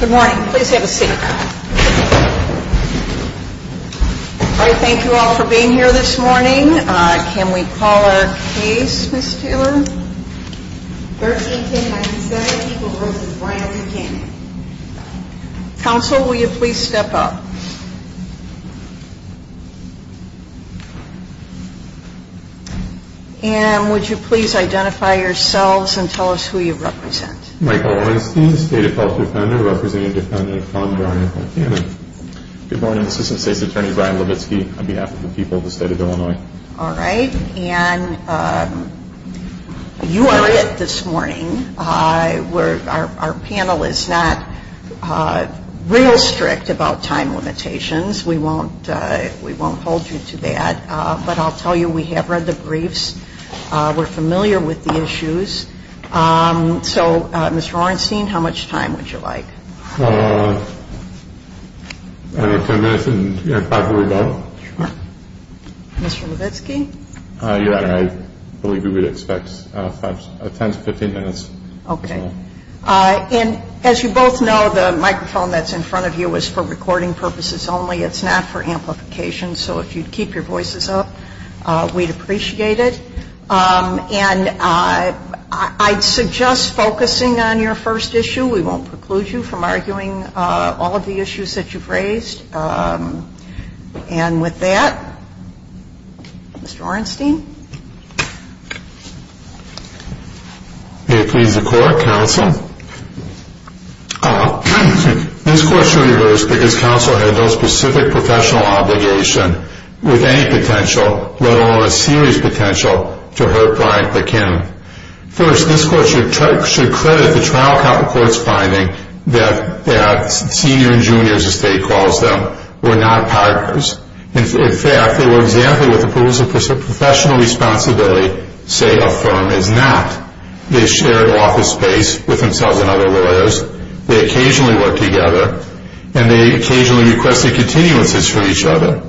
Good morning. Please have a seat. Thank you all for being here this morning. Can we call our case, Ms. Taylor? 131097, Eagle Grove, Bryan v. Buchanan. Counsel, will you please step up? And would you please identify yourselves and tell us who you represent? Michael Orenstein, State Appellate Defender, representing Defendant Von Bryan Buchanan. Good morning, Assistant State's Attorney Brian Levitsky on behalf of the people of the State of Illinois. All right. And you are it this morning. Our panel is not real strict about time limitations. We won't hold you to that. But I'll tell you, we have read the briefs. We're familiar with the issues. So, Mr. Orenstein, how much time would you like? Ten minutes and probably about. Sure. Mr. Levitsky? Yeah, I believe we would expect 10 to 15 minutes. Okay. And as you both know, the microphone that's in front of you is for recording purposes only. It's not for amplification. So if you'd keep your voices up, we'd appreciate it. And I'd suggest focusing on your first issue. We won't preclude you from arguing all of the issues that you've raised. And with that, Mr. Orenstein? May it please the Court, Counsel? This Court should reverse because Counsel has no specific professional obligation with any potential, let alone a serious potential, to hurt Brian Buchanan. First, this Court should credit the trial court's finding that senior and juniors, as the State calls them, were not partners. In fact, they were exemplary with approvals of professional responsibility, say a firm is not. They shared office space with themselves and other lawyers. They occasionally worked together. And they occasionally requested continuances from each other.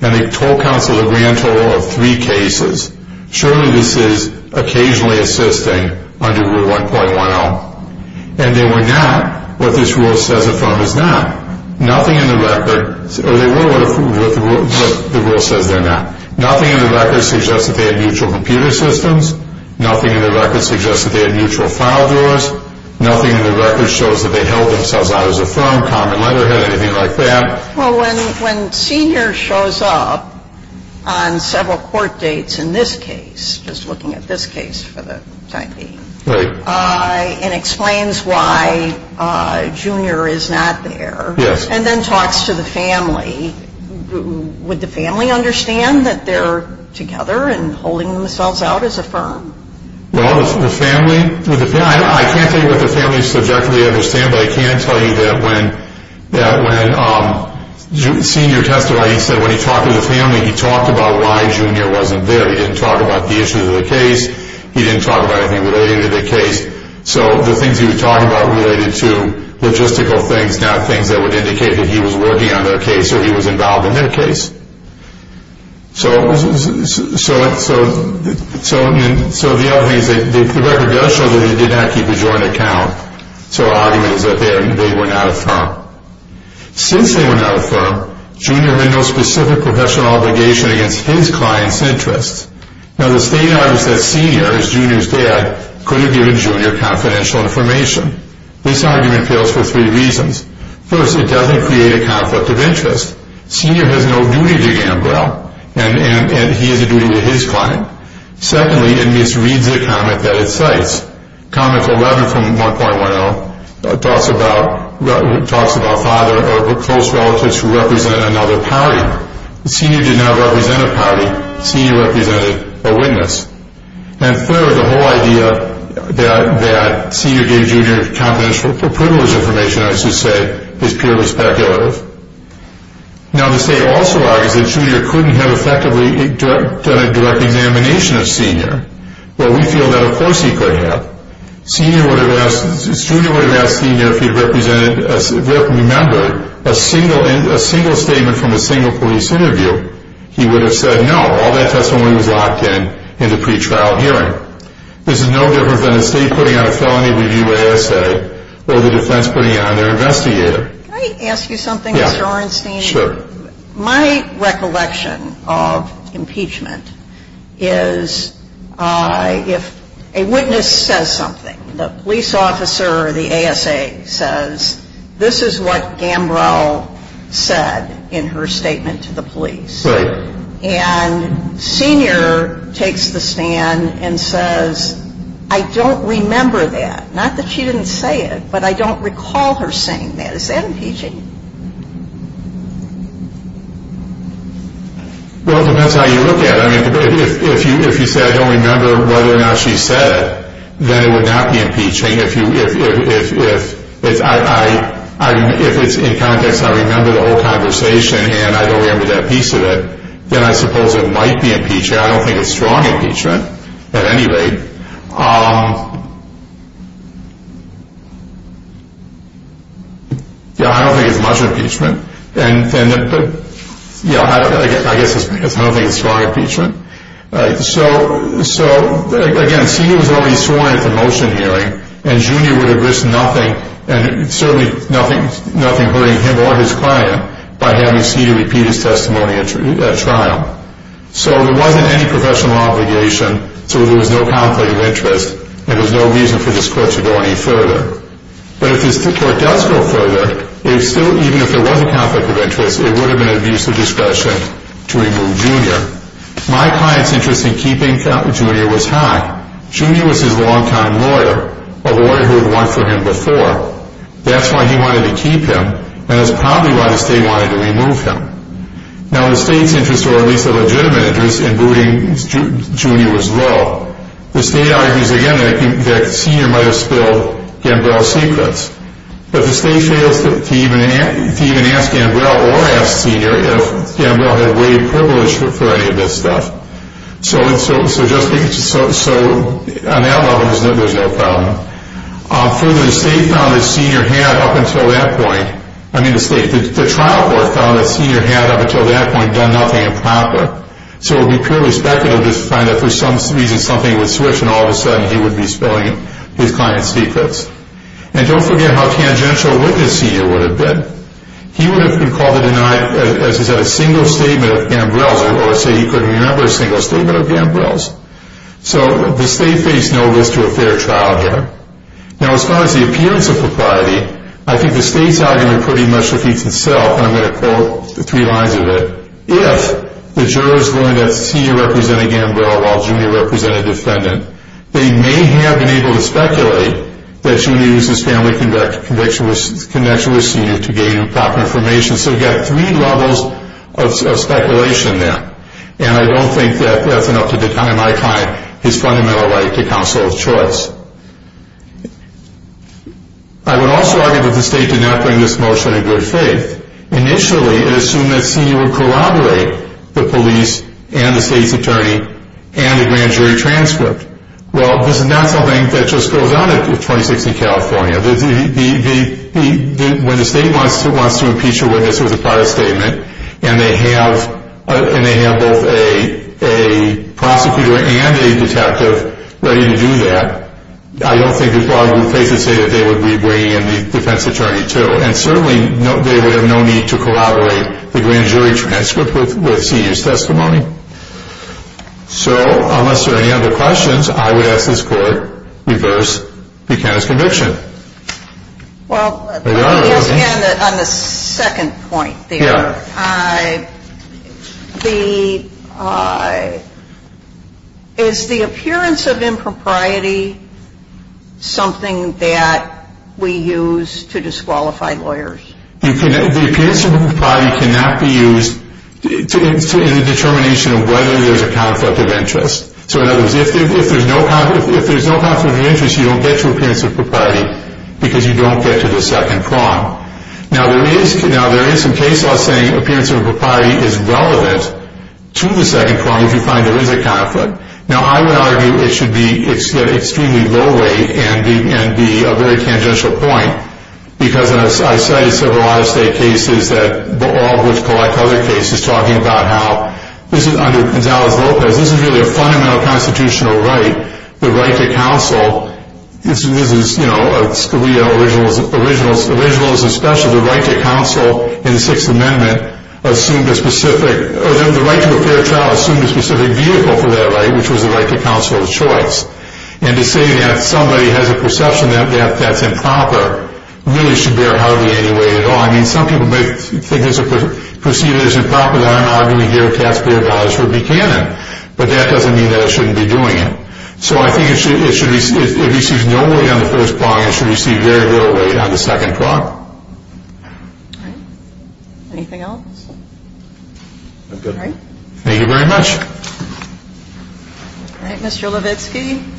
And they told Counsel a grand total of three cases. Surely this is occasionally assisting under Rule 1.10. And they were not. What this rule says a firm is not. Nothing in the record, or they were what the rule says they're not. Nothing in the record suggests that they had mutual computer systems. Nothing in the record suggests that they had mutual file drawers. Nothing in the record shows that they held themselves out as a firm, common letterhead, anything like that. Well, when senior shows up on several court dates in this case, just looking at this case for the time being. Right. And explains why junior is not there. Yes. And then talks to the family. Would the family understand that they're together and holding themselves out as a firm? Well, the family, I can't tell you what the family subjectively understands, but I can tell you that when senior testified, he said when he talked to the family, he talked about why junior wasn't there. He didn't talk about the issues of the case. He didn't talk about anything related to the case. So the things he was talking about related to logistical things, not things that would indicate that he was working on their case or he was involved in their case. So the other thing is that the record does show that he did not keep a joint account. So our argument is that they were not a firm. Since they were not a firm, junior had no specific professional obligation against his client's interests. Now the state argues that senior, as junior's dad, could have given junior confidential information. This argument fails for three reasons. First, it doesn't create a conflict of interest. Senior has no duty to Gambrel, and he has a duty to his client. Secondly, it misreads a comment that it cites. Comment 11 from 1.10 talks about father or close relatives who represent another party. Senior did not represent a party. Senior represented a witness. And third, the whole idea that senior gave junior confidential privilege information, I should say, is purely speculative. Now the state also argues that junior couldn't have effectively done a direct examination of senior. Well, we feel that of course he could have. Senior would have asked, junior would have asked senior if he represented, if he remembered a single statement from a single police interview, he would have said no. All that testimony was locked in in the pretrial hearing. This is no different than the state putting on a felony review assay or the defense putting it on their investigator. Can I ask you something, Mr. Orenstein? Sure. My recollection of impeachment is if a witness says something, the police officer or the ASA says, this is what Gambrel said in her statement to the police. Right. And senior takes the stand and says, I don't remember that. Not that she didn't say it, but I don't recall her saying that. Is that impeaching? Well, it depends how you look at it. If you say I don't remember whether or not she said it, then it would not be impeaching. If it's in context I remember the whole conversation and I don't remember that piece of it, then I suppose it might be impeaching. I don't think it's strong impeachment at any rate. I don't think it's much impeachment. I guess it's because I don't think it's strong impeachment. So, again, senior was already sworn in at the motion hearing, and junior would have risked nothing and certainly nothing hurting him or his client by having senior repeat his testimony at trial. So there wasn't any professional obligation, so there was no conflict of interest, and there was no reason for this court to go any further. But if this court does go further, even if there was a conflict of interest, it would have been an abuse of discretion to remove junior. My client's interest in keeping junior was high. Junior was his longtime lawyer, a lawyer who had worked for him before. That's why he wanted to keep him, and that's probably why the state wanted to remove him. Now the state's interest, or at least a legitimate interest, in booting junior was low. The state argues, again, that senior might have spilled Gambrel's secrets. But the state fails to even ask Gambrel or ask senior if Gambrel had waived privilege for any of this stuff. So on that level, there's no problem. Further, the state found that senior had, up until that point, I mean the state, the trial court found that senior had, up until that point, done nothing improper. So it would be purely speculative to find that for some reason something would switch, and all of a sudden he would be spilling his client's secrets. And don't forget how tangential a witness senior would have been. He would have been called to deny, as he said, a single statement of Gambrel's, or say he couldn't remember a single statement of Gambrel's. So the state faced no risk to a fair trial here. Now as far as the appearance of propriety, I think the state's argument pretty much repeats itself, and I'm going to quote the three lines of it. If the jurors learned that senior represented Gambrel while junior represented defendant, they may have been able to speculate that junior used his family connection with senior to gain proper information. So you've got three levels of speculation there. And I don't think that that's enough to deny my client his fundamental right to counsel of choice. I would also argue that the state did not bring this motion in good faith. Initially, it assumed that senior would corroborate the police and the state's attorney and a grand jury transcript. Well, this is not something that just goes on at 26th and California. When the state wants to impeach a witness with a private statement, and they have both a prosecutor and a detective ready to do that, I don't think it's logical to say that they would be bringing in the defense attorney, too. And certainly they would have no need to corroborate the grand jury transcript with senior's testimony. So unless there are any other questions, I would ask this Court to reverse Buchanan's conviction. Well, on the second point there, is the appearance of impropriety something that we use to disqualify lawyers? The appearance of impropriety cannot be used in the determination of whether there's a conflict of interest. So in other words, if there's no conflict of interest, you don't get to appearance of impropriety, because you don't get to the second prong. Now, there is some case law saying appearance of impropriety is relevant to the second prong if you find there is a conflict. Now, I would argue it should be at an extremely low rate and be a very tangential point, because I've cited several out-of-state cases, all of which collect other cases, talking about how, under Gonzalez-Lopez, this is really a fundamental constitutional right, the right to counsel. This is, you know, a Scalia originalism special. The right to counsel in the Sixth Amendment assumed a specific, or the right to a fair trial assumed a specific vehicle for that right, which was the right to counsel of choice. And to say that somebody has a perception that that's improper really should bear hardly any weight at all. I mean, some people may think it's a perception that it's improper, and I'm arguing here that taxpayer dollars should be canon. But that doesn't mean that it shouldn't be doing it. So I think it should receive no weight on the first prong. It should receive very little weight on the second prong. All right. Anything else? All right. Thank you very much. All right, Mr. Levitsky.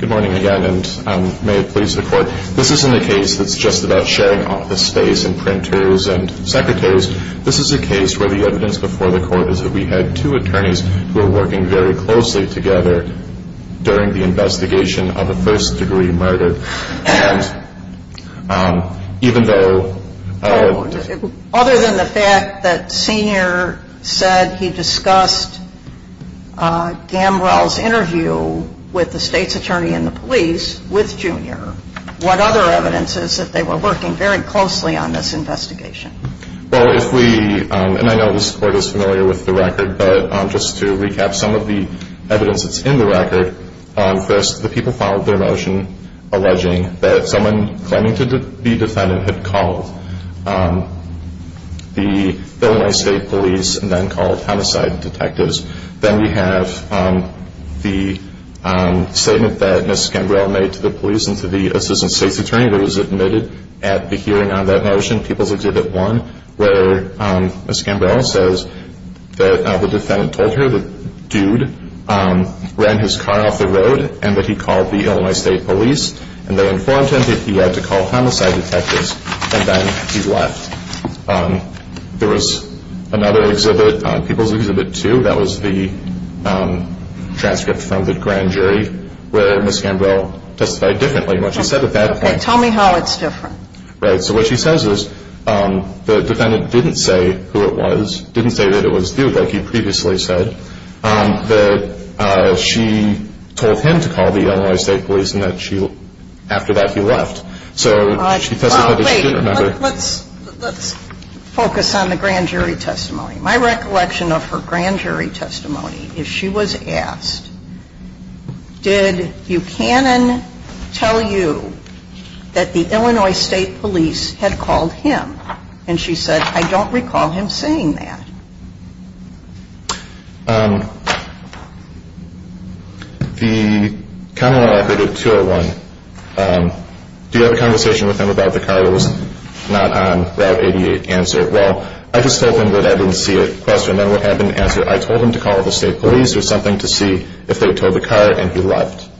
Good morning again, and may it please the Court. This isn't a case that's just about sharing office space and printers and secretaries. This is a case where the evidence before the Court is that we had two attorneys who were working very closely together during the investigation of a first-degree murder. Other than the fact that Senior said he discussed Gambrell's interview with the State's attorney and the police with Junior, what other evidence is that they were working very closely on this investigation? Well, if we – and I know this Court is familiar with the record, but just to recap some of the evidence that's in the record, first the people filed their motion alleging that someone claiming to be the defendant had called the Illinois State police and then called homicide detectives. Then we have the statement that Ms. Gambrell made to the police and to the assistant State's attorney that was admitted at the hearing on that motion, People's Exhibit 1, where Ms. Gambrell says that the defendant told her the dude ran his car off the road and that he called the Illinois State police, and they informed him that he had to call homicide detectives, and then he left. There was another exhibit, People's Exhibit 2, that was the transcript from the grand jury, where Ms. Gambrell testified differently. What she said at that point – Okay, tell me how it's different. Right. So what she says is the defendant didn't say who it was, didn't say that it was the dude like you previously said, that she told him to call the Illinois State police and that she – after that he left. So she testified that she didn't remember. Let's focus on the grand jury testimony. My recollection of her grand jury testimony is she was asked, did Buchanan tell you that the Illinois State police had called him? And she said, I don't recall him saying that. The comment I recorded, 201, do you have a conversation with him about the car that was not on Route 88? Answer, well, I just told him that I didn't see it. Question, I didn't answer, I told him to call the State police. It was something to see if they towed the car and he left.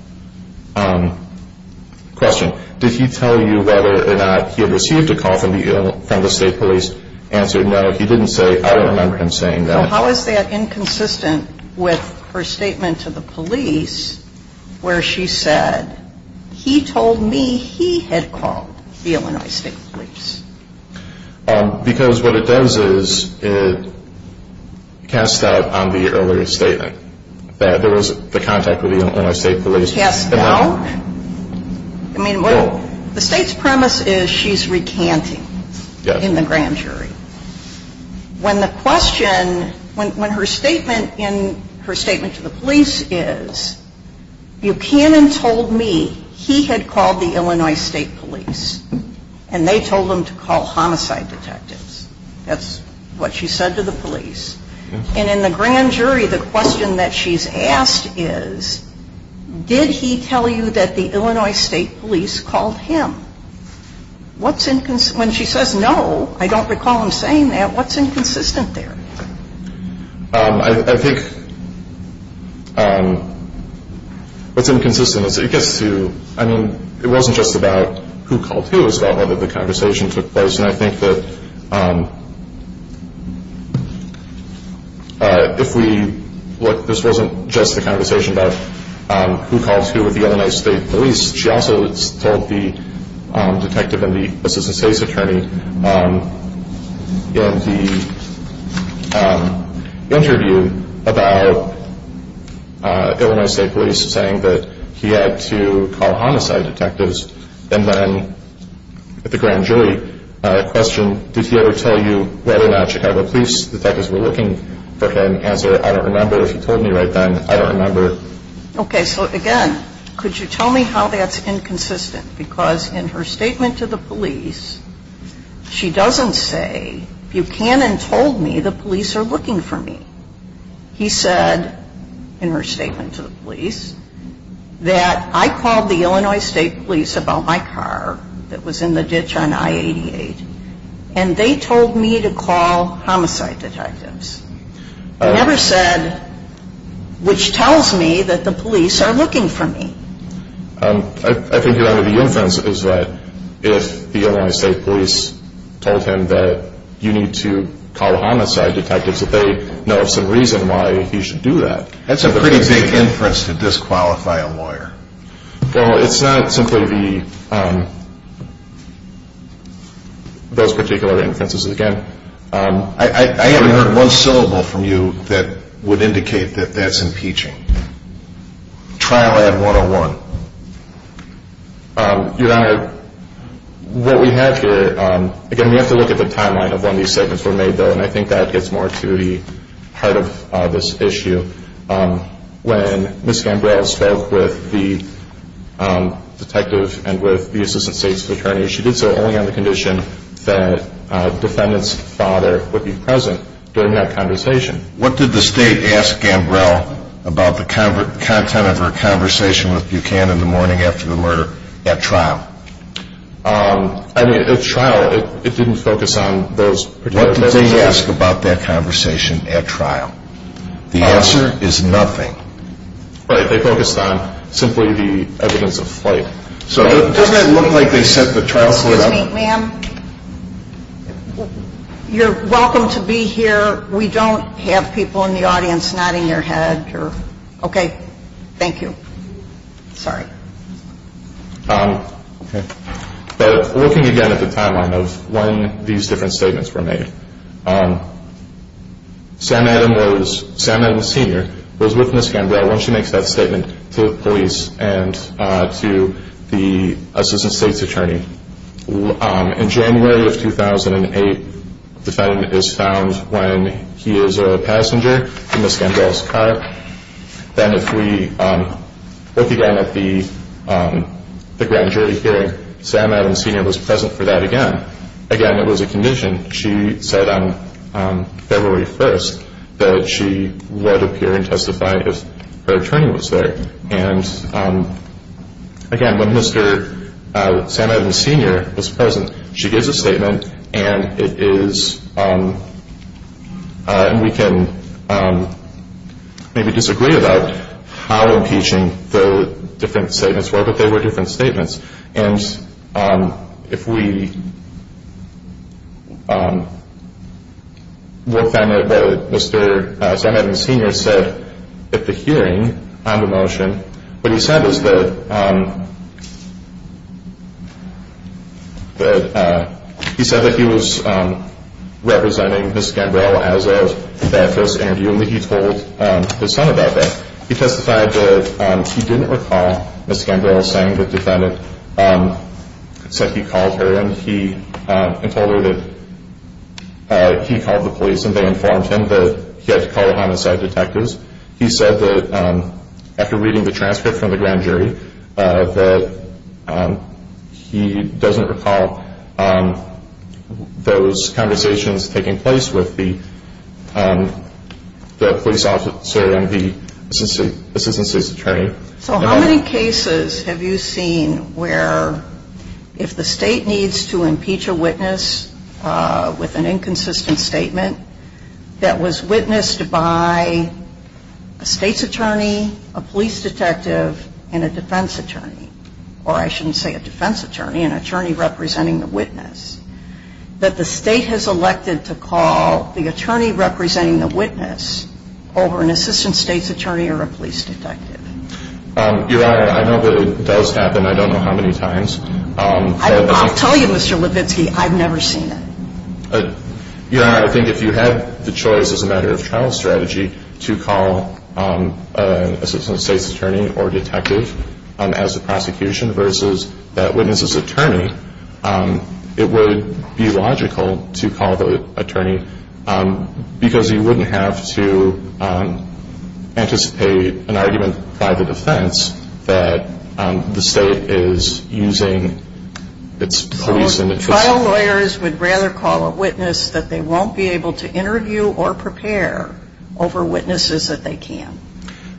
Question, did he tell you whether or not he had received a call from the State police? Answer, no, he didn't say, I don't remember him saying that. How is that inconsistent with her statement to the police where she said, he told me he had called the Illinois State police? Because what it does is it casts doubt on the earlier statement that there was the contact with the Illinois State police. Cast doubt? I mean, well, the State's premise is she's recanting in the grand jury. When the question – when her statement in – her statement to the police is, Buchanan told me he had called the Illinois State police and they told him to call homicide detectives. That's what she said to the police. And in the grand jury, the question that she's asked is, did he tell you that the Illinois State police called him? What's – when she says no, I don't recall him saying that, what's inconsistent there? I think what's inconsistent is it gets to – I mean, it wasn't just about who called who. It was about whether the conversation took place. And I think that if we – this wasn't just a conversation about who called who with the Illinois State police. She also told the detective and the assistant state's attorney in the interview about Illinois State police saying that he had to call homicide detectives. And then at the grand jury question, did he ever tell you whether or not Chicago police detectives were looking for him? Answer, I don't remember if he told me right then. I don't remember. Okay. So, again, could you tell me how that's inconsistent? Because in her statement to the police, she doesn't say, Buchanan told me the police are looking for me. He said, in her statement to the police, that I called the Illinois State police about my car that was in the ditch on I-88, and they told me to call homicide detectives. He never said, which tells me that the police are looking for me. I think part of the inference is that if the Illinois State police told him that you need to call homicide detectives, that they know of some reason why he should do that. That's a pretty big inference to disqualify a lawyer. Well, it's not simply those particular inferences. Again, I haven't heard one syllable from you that would indicate that that's impeaching. Trial ad 101. Your Honor, what we have here, again, we have to look at the timeline of when these statements were made, though, and I think that gets more to the heart of this issue. When Ms. Gambrel spoke with the detective and with the assistant state's attorney, she did so only on the condition that the defendant's father would be present during that conversation. What did the state ask Gambrel about the content of her conversation with Buchanan the morning after the murder at trial? I mean, at trial, it didn't focus on those particular messages. What did they ask about that conversation at trial? The answer is nothing. Right. They focused on simply the evidence of flight. So doesn't it look like they set the trial floor up? Excuse me, ma'am. You're welcome to be here. We don't have people in the audience nodding their head. Okay. Thank you. Sorry. Looking again at the timeline of when these different statements were made, Sam Adams Sr. was with Ms. Gambrel when she makes that statement to the police and to the assistant state's attorney. In January of 2008, the defendant is found when he is a passenger in Ms. Gambrel's car. Then if we look again at the grand jury hearing, Sam Adams Sr. was present for that again. Again, it was a condition. She said on February 1st that she would appear and testify if her attorney was there. Again, when Sam Adams Sr. was present, she gives a statement, and we can maybe disagree about how impeaching the different statements were, but they were different statements. And if we look then at what Mr. Sam Adams Sr. said at the hearing on the motion, what he said was that he was representing Ms. Gambrel as of that first interview, and he told his son about that. He testified that he didn't recall Ms. Gambrel saying that the defendant said he called her and told her that he called the police and they informed him that he had to call the homicide detectives. He said that after reading the transcript from the grand jury, that he doesn't recall those conversations taking place with the police officer and the assistant state's attorney. So how many cases have you seen where if the state needs to impeach a witness with an inconsistent statement that was witnessed by a state's attorney, a police detective, and a defense attorney, or I shouldn't say a defense attorney, an attorney representing the witness, that the state has elected to call the attorney representing the witness over an assistant state's attorney or a police detective? Your Honor, I know that it does happen. I don't know how many times. I'll tell you, Mr. Levitsky, I've never seen it. Your Honor, I think if you had the choice as a matter of trial strategy to call an assistant state's attorney or detective as the prosecution versus that witness's attorney, it would be logical to call the attorney because you wouldn't have to anticipate an argument by the defense that the state is using its police and its- Trial lawyers would rather call a witness that they won't be able to interview or prepare over witnesses that they can.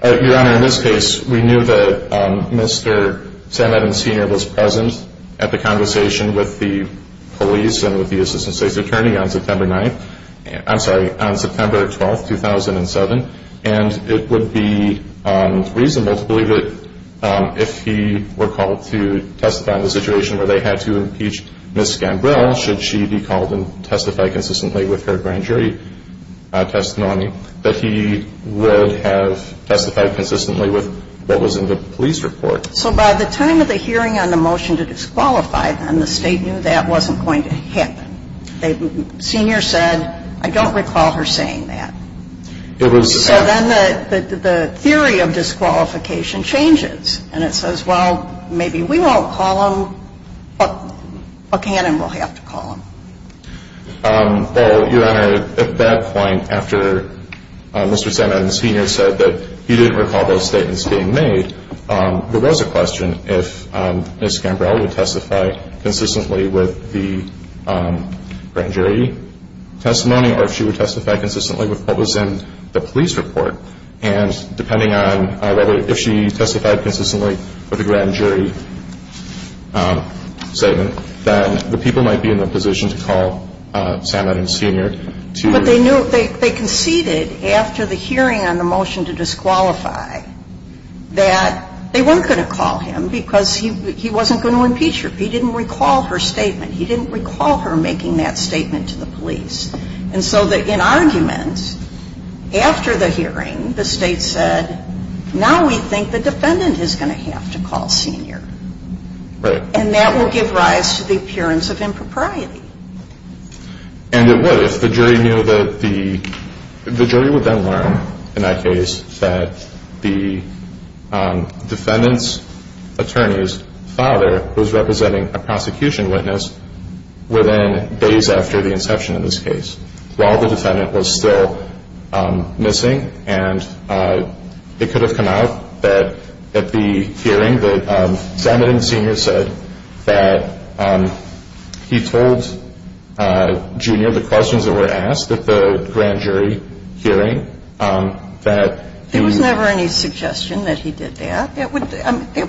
Your Honor, in this case, we knew that Mr. Sam Eden, Sr. was present at the conversation with the police and with the assistant state's attorney on September 9th. I'm sorry, on September 12th, 2007. And it would be reasonable to believe that if he were called to testify on the situation where they had to impeach Ms. Gambrill, should she be called and testified consistently with her grand jury testimony, that he would have testified consistently with what was in the police report. So by the time of the hearing on the motion to disqualify, then the state knew that wasn't going to happen. Sr. said, I don't recall her saying that. It was- So then the theory of disqualification changes. And it says, well, maybe we won't call him, but Buchanan will have to call him. Well, Your Honor, at that point, after Mr. Sam Eden, Sr. said that he didn't recall those statements being made, there was a question if Ms. Gambrill would testify consistently with the grand jury testimony or if she would testify consistently with what was in the police report. And depending on whether if she testified consistently with the grand jury statement, then the people might be in a position to call Sam Eden, Sr. to- But they knew, they conceded after the hearing on the motion to disqualify that they weren't going to call him because he wasn't going to impeach her. He didn't recall her statement. He didn't recall her making that statement to the police. And so in argument, after the hearing, the State said, now we think the defendant is going to have to call Sr. Right. And that will give rise to the appearance of impropriety. And it would if the jury knew that the- the jury would then learn in that case that the defendant's attorney's father was representing a prosecution witness within days after the inception of this case while the defendant was still missing. And it could have come out that at the hearing that Sam Eden, Sr. said that he told Jr. the questions that were asked at the grand jury hearing that- There was never any suggestion that he did that. It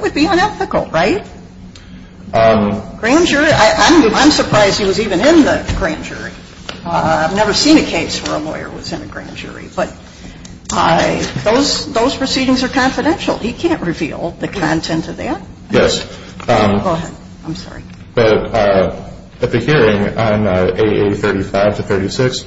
would be unethical, right? Grand jury, I'm surprised he was even in the grand jury. I've never seen a case where a lawyer was in a grand jury. But those proceedings are confidential. He can't reveal the content of that. Yes. Go ahead. I'm sorry. But at the hearing on AA35 to 36,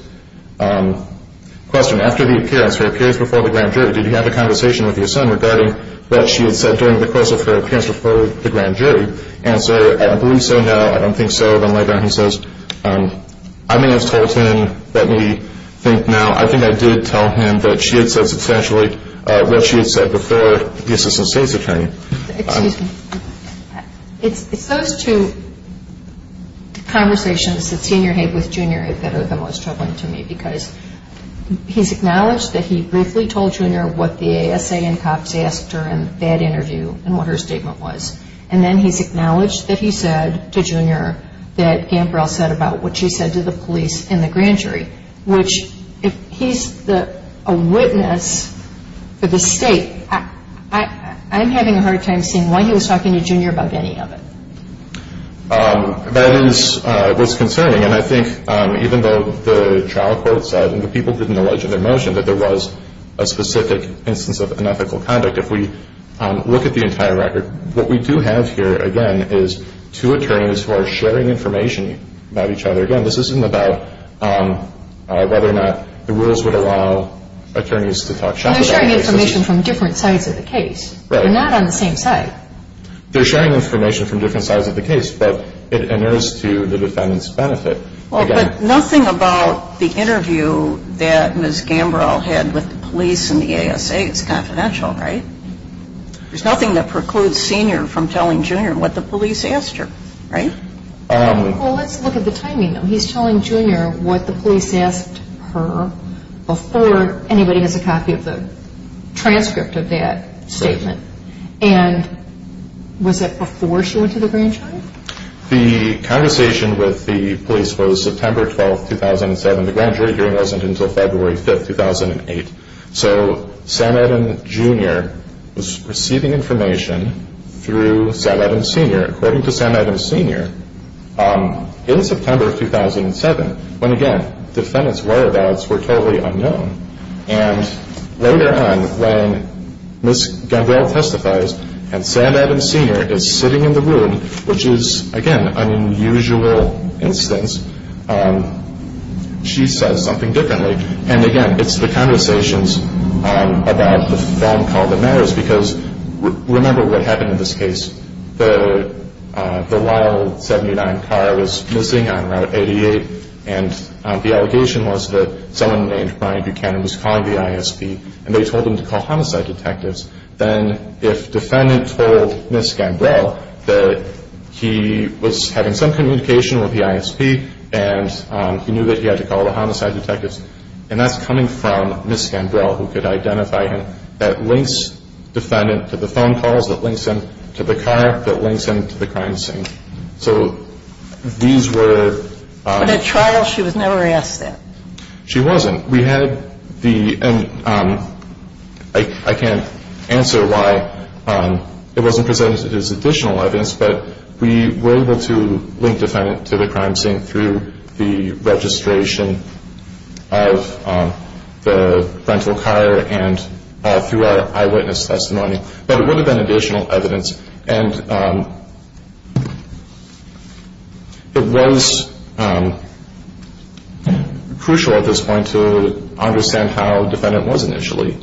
question, after the appearance, her appearance before the grand jury, did you have a conversation with your son regarding what she had said during the course of her appearance before the grand jury? Answer, I believe so, no. I don't think so. Then later he says, I may have told him. Let me think now. I think I did tell him that she had said substantially what she had said before the assistant state's attorney. Excuse me. It's those two conversations that Sr. had with Jr. that are the most troubling to me because he's acknowledged that he briefly told Jr. what the ASA and cops asked her in that interview and what her statement was. And then he's acknowledged that he said to Jr. that Gambrel said about what she said to the police in the grand jury, which he's a witness for the state. I'm having a hard time seeing why he was talking to Jr. about any of it. That is what's concerning. And I think even though the trial court said and the people didn't allege in their motion that there was a specific instance of unethical conduct, if we look at the entire record, what we do have here, again, is two attorneys who are sharing information about each other. Again, this isn't about whether or not the rules would allow attorneys to talk shop about cases. They're sharing information from different sides of the case. Right. They're not on the same side. They're sharing information from different sides of the case, but it inures to the defendant's benefit. But nothing about the interview that Ms. Gambrel had with the police and the ASA is confidential, right? There's nothing that precludes Sr. from telling Jr. what the police asked her, right? Well, let's look at the timing, though. He's telling Jr. what the police asked her before anybody has a copy of the transcript of that statement. And was it before she went to the grand jury? The conversation with the police was September 12, 2007. The grand jury hearing wasn't until February 5, 2008. So Sam Adams Jr. was receiving information through Sam Adams Sr. According to Sam Adams Sr., in September of 2007, when, again, the defendant's whereabouts were totally unknown, and later on, when Ms. Gambrel testifies and Sam Adams Sr. is sitting in the room, which is, again, an unusual instance, she says something differently. And, again, it's the conversations about the phone call that matters, because remember what happened in this case. The wild 79 car was missing on Route 88, and the allegation was that someone named Brian Buchanan was calling the ISP, and they told him to call homicide detectives. Then if defendant told Ms. Gambrel that he was having some communication with the ISP and he knew that he had to call the homicide detectives, and that's coming from Ms. Gambrel, who could identify him, that links defendant to the phone calls, that links him to the car, that links him to the crime scene. So these were – But at trial, she was never asked that. She wasn't. We had the – and I can't answer why it wasn't presented as additional evidence, but we were able to link defendant to the crime scene through the registration of the rental car and through our eyewitness testimony. But it would have been additional evidence. And it was crucial at this point to understand how defendant was initially.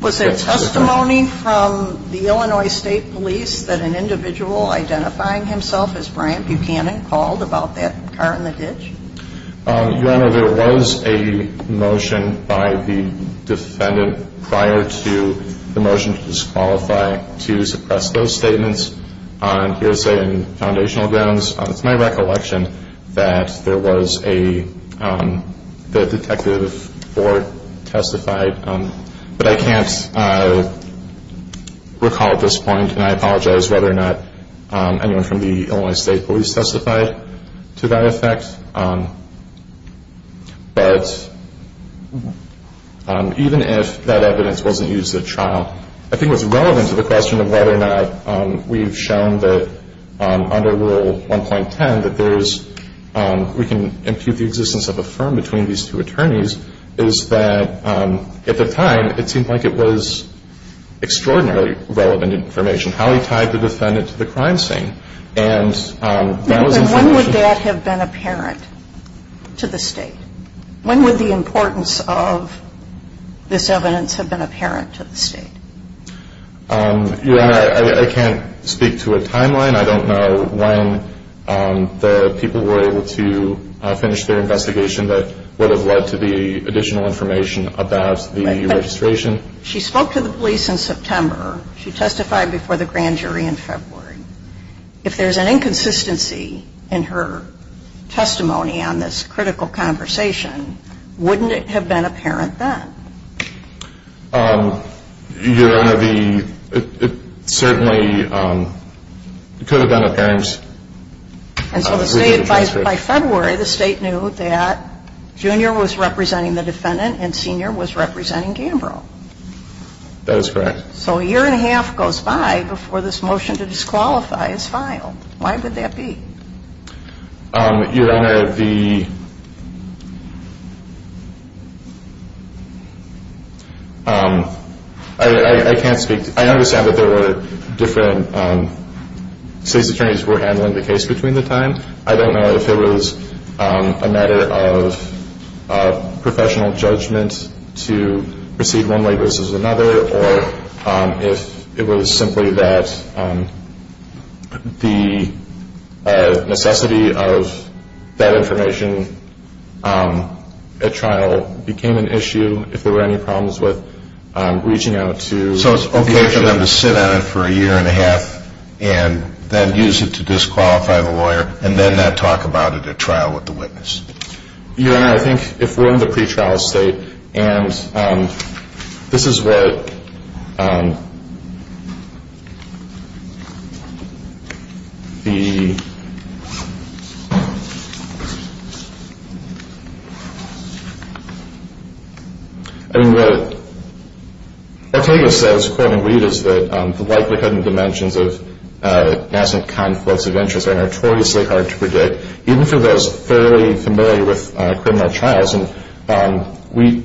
Was there testimony from the Illinois State Police that an individual identifying himself as Brian Buchanan called about that car in the ditch? Your Honor, there was a motion by the defendant prior to the motion to disqualify to suppress those statements on hearsay and foundational grounds. It's my recollection that there was a detective or testified, but I can't recall at this point, and I apologize whether or not anyone from the Illinois State Police testified to that effect. But even if that evidence wasn't used at trial, I think it was relevant to the question of whether or not we've shown that under Rule 1.10 that there's – we can impute the existence of a firm between these two attorneys, is that at the time, it seemed like it was extraordinarily relevant information, how he tied the defendant to the crime scene. And that was information – When would that have been apparent to the State? When would the importance of this evidence have been apparent to the State? Your Honor, I can't speak to a timeline. I don't know when the people were able to finish their investigation that would have led to the additional information about the registration. She spoke to the police in September. She testified before the grand jury in February. If there's an inconsistency in her testimony on this critical conversation, wouldn't it have been apparent then? Your Honor, the – it certainly could have been apparent. And so the State – by February, the State knew that Junior was representing the defendant and Senior was representing Gambrill. That is correct. So a year and a half goes by before this motion to disqualify is filed. Why would that be? Your Honor, the – I can't speak – I understand that there were different – state's attorneys were handling the case between the time. I don't know if it was a matter of professional judgment to proceed one way versus another or if it was simply that the necessity of that information at trial became an issue, if there were any problems with reaching out to – So it's okay for them to sit on it for a year and a half and then use it to disqualify the lawyer and then not talk about it at trial with the witness? Your Honor, I think if we're in the pretrial state and this is what the – I mean, what Ortega says, quote, unquote, is that the likelihood and dimensions of nascent conflicts of interest are notoriously hard to predict, even for those fairly familiar with criminal trials. And Wheat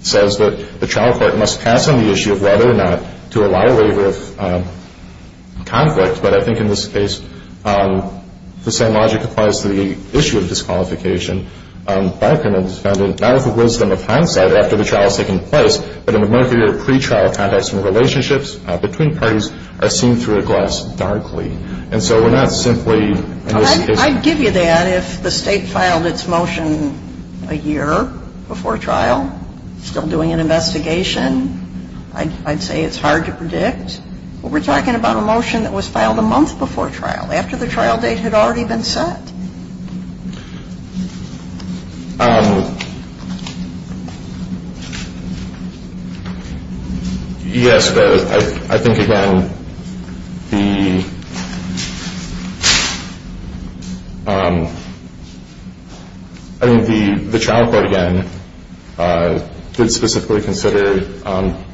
says that the trial court must pass on the issue of whether or not to allow a waiver of conflict. But I think in this case the same logic applies to the issue of disqualification. By a criminal defendant, not with the wisdom of hindsight after the trial has taken place, but in a murkier pretrial context when relationships between parties are seen through a glass darkly. And so we're not simply – I'd give you that if the state filed its motion a year before trial, still doing an investigation. I'd say it's hard to predict. But we're talking about a motion that was filed a month before trial, after the trial date had already been set. Yes, I think, again, the trial court, again, did specifically consider the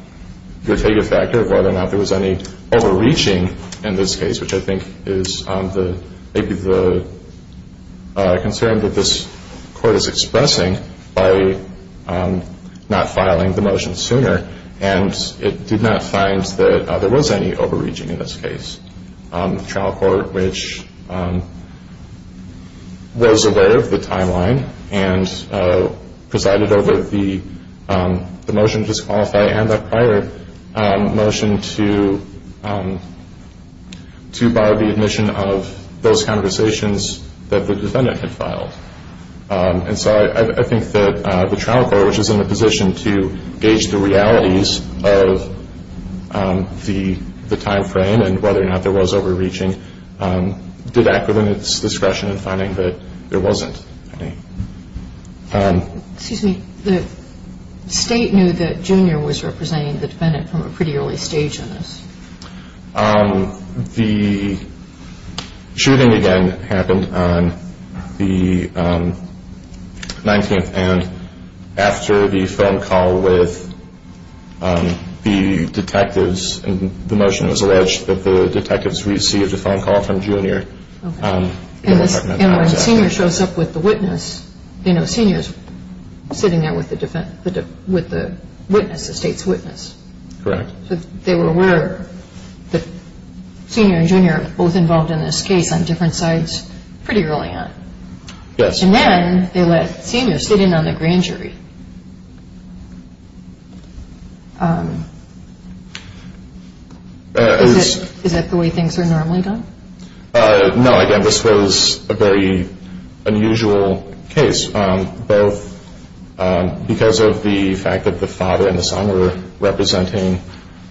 Ortega factor of whether or not there was any overreaching in this case, which I think is maybe the concern that this court is expressing by not filing the motion sooner. And it did not find that there was any overreaching in this case. The trial court, which was aware of the timeline and presided over the motion to disqualify and the prior motion to bar the admission of those conversations that the defendant had filed. And so I think that the trial court, which is in a position to gauge the realities of the timeframe and whether or not there was overreaching, did act within its discretion in finding that there wasn't any. Excuse me. The state knew that Junior was representing the defendant from a pretty early stage in this. The shooting, again, happened on the 19th. And after the phone call with the detectives, the motion was alleged that the detectives received a phone call from Junior. And when Senior shows up with the witness, Senior is sitting there with the witness, the state's witness. Correct. So they were aware that Senior and Junior were both involved in this case on different sides pretty early on. Yes. And then they let Senior sit in on the grand jury. Is that the way things are normally done? No, again, this was a very unusual case, both because of the fact that the father and the son were representing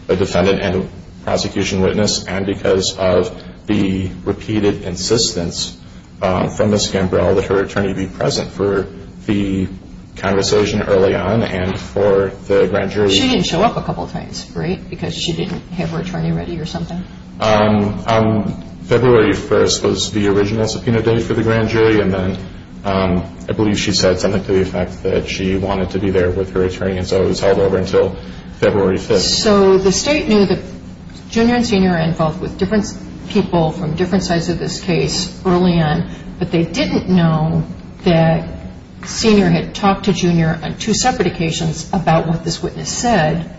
the defendant and the prosecution witness, and because of the repeated insistence from Ms. Gambrel that her attorney be present for the conversation early on and for the grand jury. She didn't show up a couple of times, right, because she didn't have her attorney ready or something? February 1st was the original subpoena date for the grand jury, and then I believe she said something to the effect that she wanted to be there with her attorney, and so it was held over until February 5th. So the state knew that Junior and Senior were involved with different people from different sides of this case early on, but they didn't know that Senior had talked to Junior on two separate occasions about what this witness said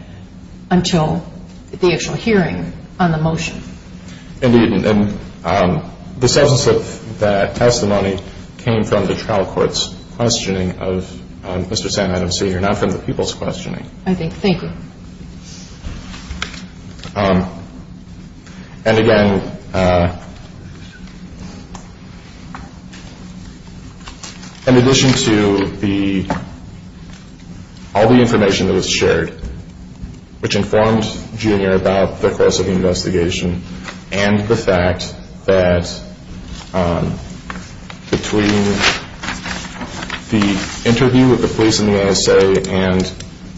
until the actual hearing on the motion. Indeed. And the substance of that testimony came from the trial court's questioning of Mr. Sam Adams, Senior, not from the people's questioning. I think. Thank you. And again, in addition to all the information that was shared, which informed Junior about the course of the investigation and the fact that between the interview with the police and the NSA and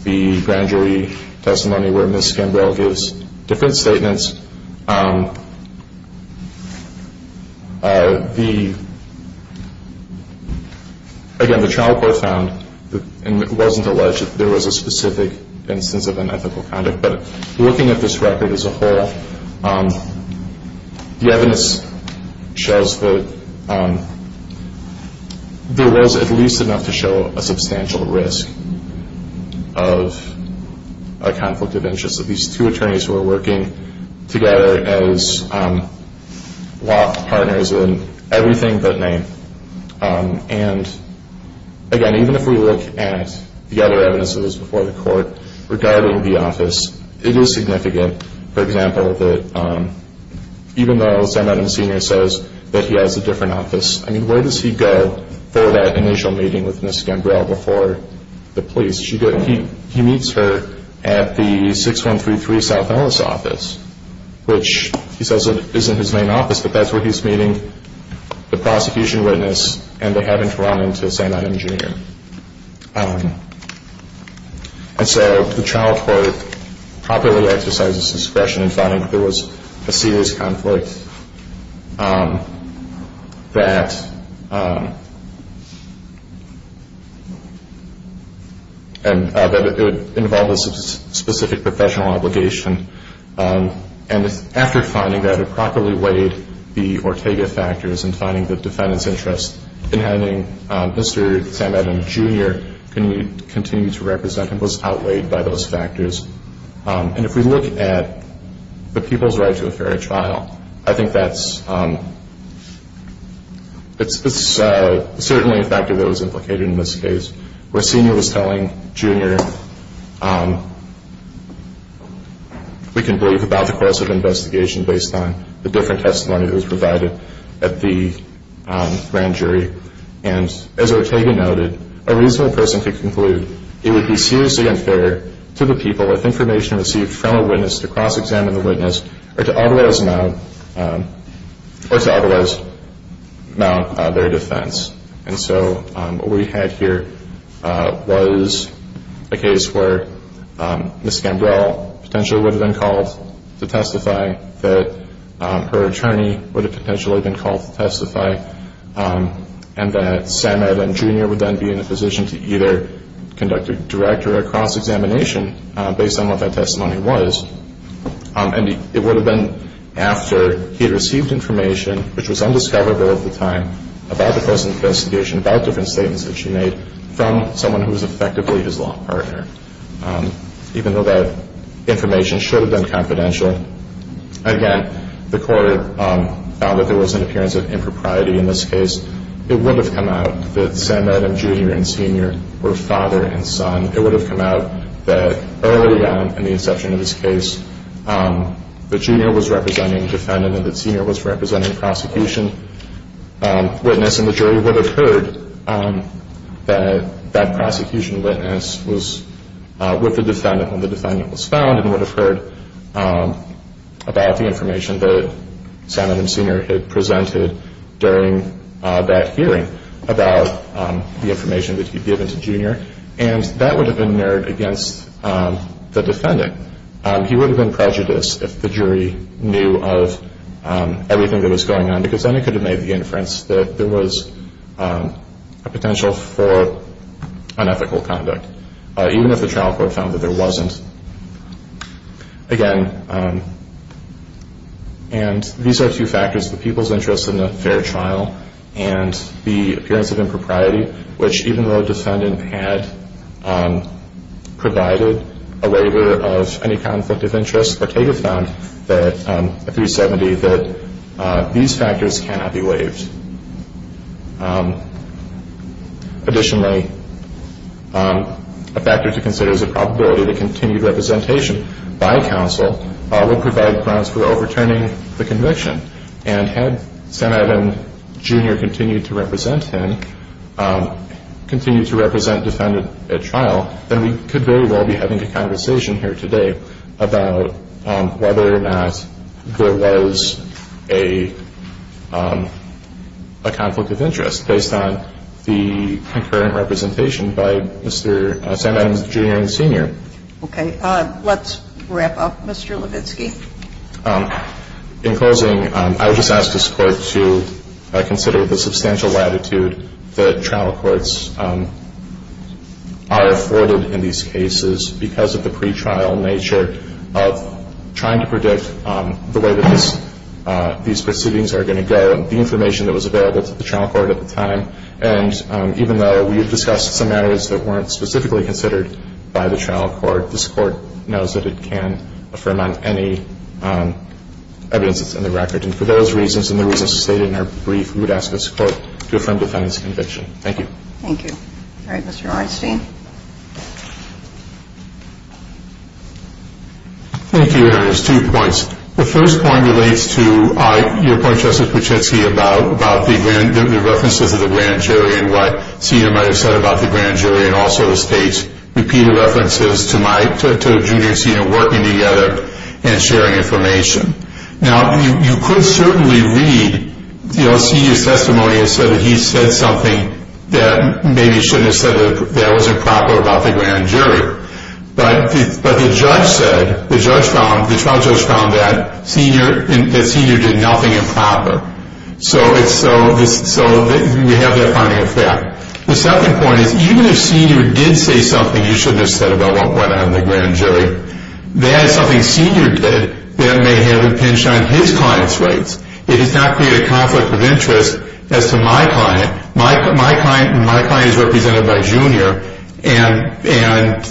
the grand jury testimony where Ms. Gambrill gives different statements, again, the trial court found and wasn't alleged that there was a specific instance of unethical conduct, but looking at this record as a whole, the evidence shows that there was at least enough to show a substantial risk of a conflict of interest. These two attorneys were working together as law partners in everything but name. And again, even if we look at the other evidences before the court regarding the office, it is significant, for example, that even though Sam Adams Senior says that he has a different office, I mean, where does he go for that initial meeting with Ms. Gambrill before the police? He meets her at the 6133 South Ellis office, which he says isn't his main office, but that's where he's meeting the prosecution witness and they haven't run into Sam Adams Junior. And so the trial court properly exercised its discretion in finding that there was a serious conflict, that it would involve a specific professional obligation, and after finding that it properly weighed the Ortega factors and finding the defendant's interest in having Mr. Sam Adams Junior continue to represent him was outweighed by those factors. And if we look at the people's right to a fair trial, I think that's certainly a factor that was implicated in this case, where Senior was telling Junior we can believe about the course of investigation based on the different testimony that was provided at the grand jury. And as Ortega noted, a reasonable person could conclude it would be seriously unfair to the people if information received from a witness to cross-examine the witness or to otherwise mount their defense. And so what we had here was a case where Ms. Gambrell potentially would have been called to testify, that her attorney would have potentially been called to testify, and that Sam Adams Junior would then be in a position to either conduct a direct or a cross-examination based on what that testimony was. And it would have been after he had received information, which was undiscoverable at the time, about the course of investigation, about different statements that she made, from someone who was effectively his law partner, even though that information should have been confidential. Again, the court found that there was an appearance of impropriety in this case. It would have come out that Sam Adams Junior and Senior were father and son. It would have come out that early on in the inception of this case, that Junior was representing defendant and that Senior was representing prosecution witness, and the jury would have heard that that prosecution witness was with the defendant when the defendant was found and would have heard about the information that Sam Adams Senior had presented during that hearing and that would have been mirrored against the defendant. He would have been prejudiced if the jury knew of everything that was going on, because then it could have made the inference that there was a potential for unethical conduct, even if the trial court found that there wasn't. Again, and these are two factors, the people's interest in a fair trial and the appearance of impropriety, which even though the defendant had provided a waiver of any conflict of interest, Ortega found at 370 that these factors cannot be waived. Additionally, a factor to consider is the probability that continued representation by counsel would provide grounds for overturning the conviction, and had Sam Adams Junior continued to represent defendant at trial, then we could very well be having a conversation here today about whether or not there was a conflict of interest based on the concurrent representation by Sam Adams Junior and Senior. Okay. Let's wrap up, Mr. Levitsky. In closing, I would just ask this Court to consider the substantial latitude that trial courts are afforded in these cases because of the pretrial nature of trying to predict the way that these proceedings are going to go, the information that was available to the trial court at the time, and even though we have discussed some matters that weren't specifically considered by the trial court, this Court knows that it can affirm on any evidence that's in the record. And for those reasons and the reasons stated in our brief, we would ask this Court to affirm the defendant's conviction. Thank you. Thank you. All right, Mr. Orenstein. Thank you, Your Honor. There's two points. The first point relates to your point, Justice Kuczynski, about the references of the grand jury and what Senior might have said about the grand jury, and also states repeated references to Junior and Senior working together and sharing information. Now, you could certainly read Senior's testimony and say that he said something that maybe he shouldn't have said that was improper about the grand jury, but the trial judge found that Senior did nothing improper. So we have that finding of fact. The second point is even if Senior did say something you shouldn't have said about what went on in the grand jury, that is something Senior did that may have impinged on his client's rights. It does not create a conflict of interest as to my client. My client is represented by Junior, and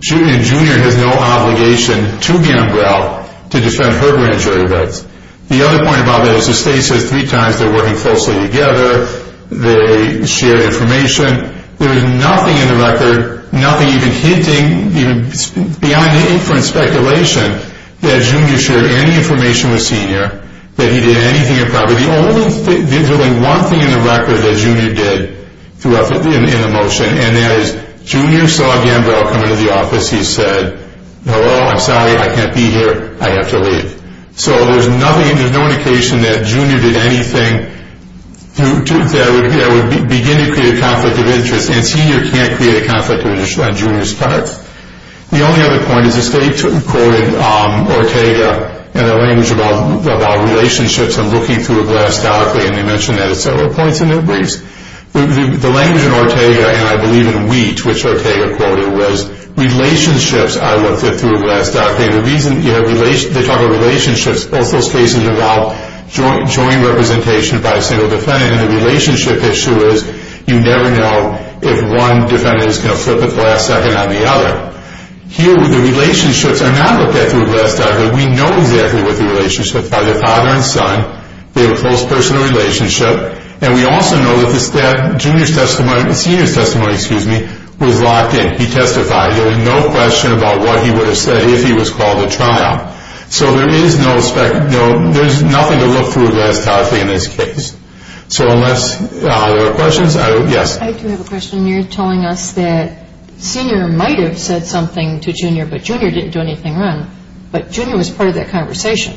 Junior has no obligation to Gambrel to defend her grand jury rights. The other point about that is the state says three times they're working closely together, they share information. There is nothing in the record, nothing even hinting, even behind the inference speculation, that Junior shared any information with Senior, that he did anything improper. There's only one thing in the record that Junior did in the motion, and that is Junior saw Gambrel come into the office. He said, hello, I'm sorry, I can't be here. I have to leave. So there's no indication that Junior did anything that would begin to create a conflict of interest, and Senior can't create a conflict of interest on Junior's part. The only other point is the state quoted Ortega in a language about relationships and looking through a glass document, and they mention that at several points in their briefs. The language in Ortega, and I believe in Wheat, which Ortega quoted, was, relationships are looked at through a glass document. The reason they talk about relationships is those cases involve joint representation by a single defendant, and the relationship issue is you never know if one defendant is going to flip at the last second on the other. Here, the relationships are not looked at through a glass document. We know exactly what the relationship is by their father and son. They have a close personal relationship, and we also know that Junior's testimony, Senior's testimony, was locked in. He testified. There was no question about what he would have said if he was called to trial. So there's nothing to look through a glass document in this case. So unless there are questions, yes. I do have a question. You're telling us that Senior might have said something to Junior, but Junior didn't do anything wrong, but Junior was part of that conversation.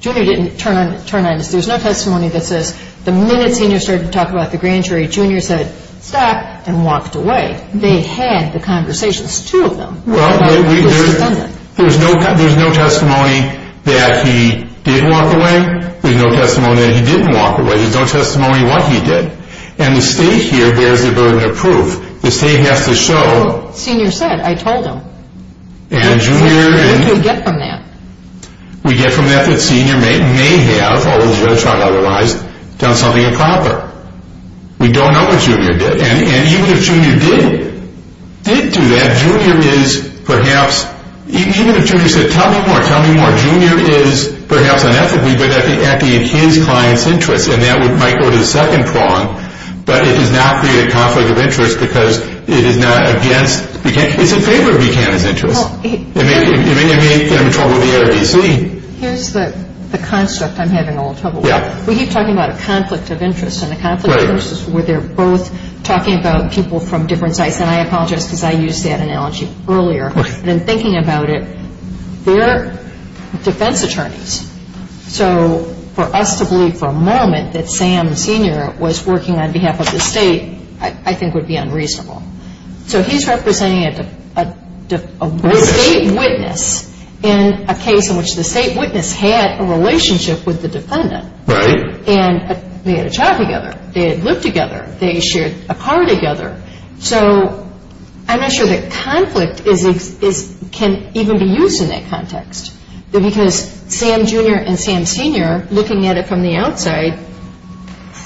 Junior didn't turn on us. There's no testimony that says the minute Senior started to talk about the grand jury, Junior said, stop, and walked away. They had the conversations, two of them. Well, there's no testimony that he did walk away. There's no testimony that he didn't walk away. There's no testimony what he did. And the state here bears the burden of proof. The state has to show. Senior said. I told him. And Junior. What do we get from that? We get from that that Senior may have, although he's going to try to otherwise, done something improper. We don't know what Junior did. And even if Junior did do that, Junior is perhaps, even if Junior said, tell me more, tell me more, Junior is perhaps unethically, but acting in his client's interest, and that might go to the second prong, but it does not create a conflict of interest because it is not against Buchanan. It's in favor of Buchanan's interest. I mean, I'm in trouble with the ARDC. Here's the construct I'm having a little trouble with. We keep talking about a conflict of interest, and a conflict of interest is where they're both talking about people from different sites. And I apologize because I used that analogy earlier. And in thinking about it, they're defense attorneys. So for us to believe for a moment that Sam Senior was working on behalf of the state I think would be unreasonable. So he's representing a state witness in a case in which the state witness had a relationship with the defendant. Right. And they had a job together. They had lived together. They shared a car together. So I'm not sure that conflict can even be used in that context. Because Sam Junior and Sam Senior, looking at it from the outside,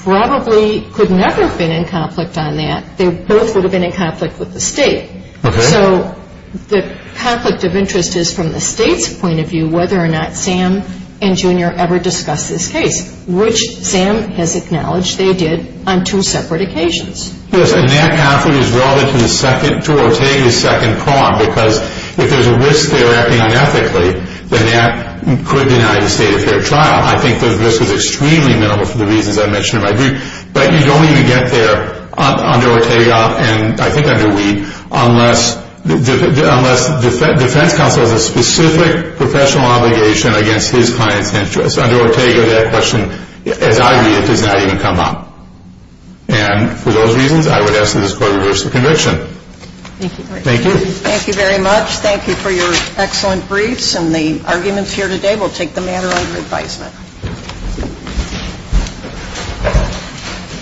probably could never have been in conflict on that. They both would have been in conflict with the state. Okay. So the conflict of interest is from the state's point of view whether or not Sam and Junior ever discussed this case, which Sam has acknowledged they did on two separate occasions. Yes. And that answer is rather to the second, to Ortega's second prong, because if there's a risk they're acting unethically, then that could deny the state a fair trial. I think the risk is extremely minimal for the reasons I mentioned in my brief. But you don't even get there under Ortega, and I think under Wee, unless defense counsel has a specific professional obligation against his client's interests. Under Ortega, that question, as I read it, does not even come up. And for those reasons, I would ask that this Court reverse the conviction. Thank you. Thank you. Thank you very much. Thank you for your excellent briefs. And the arguments here today will take the matter under advisement. Thank you.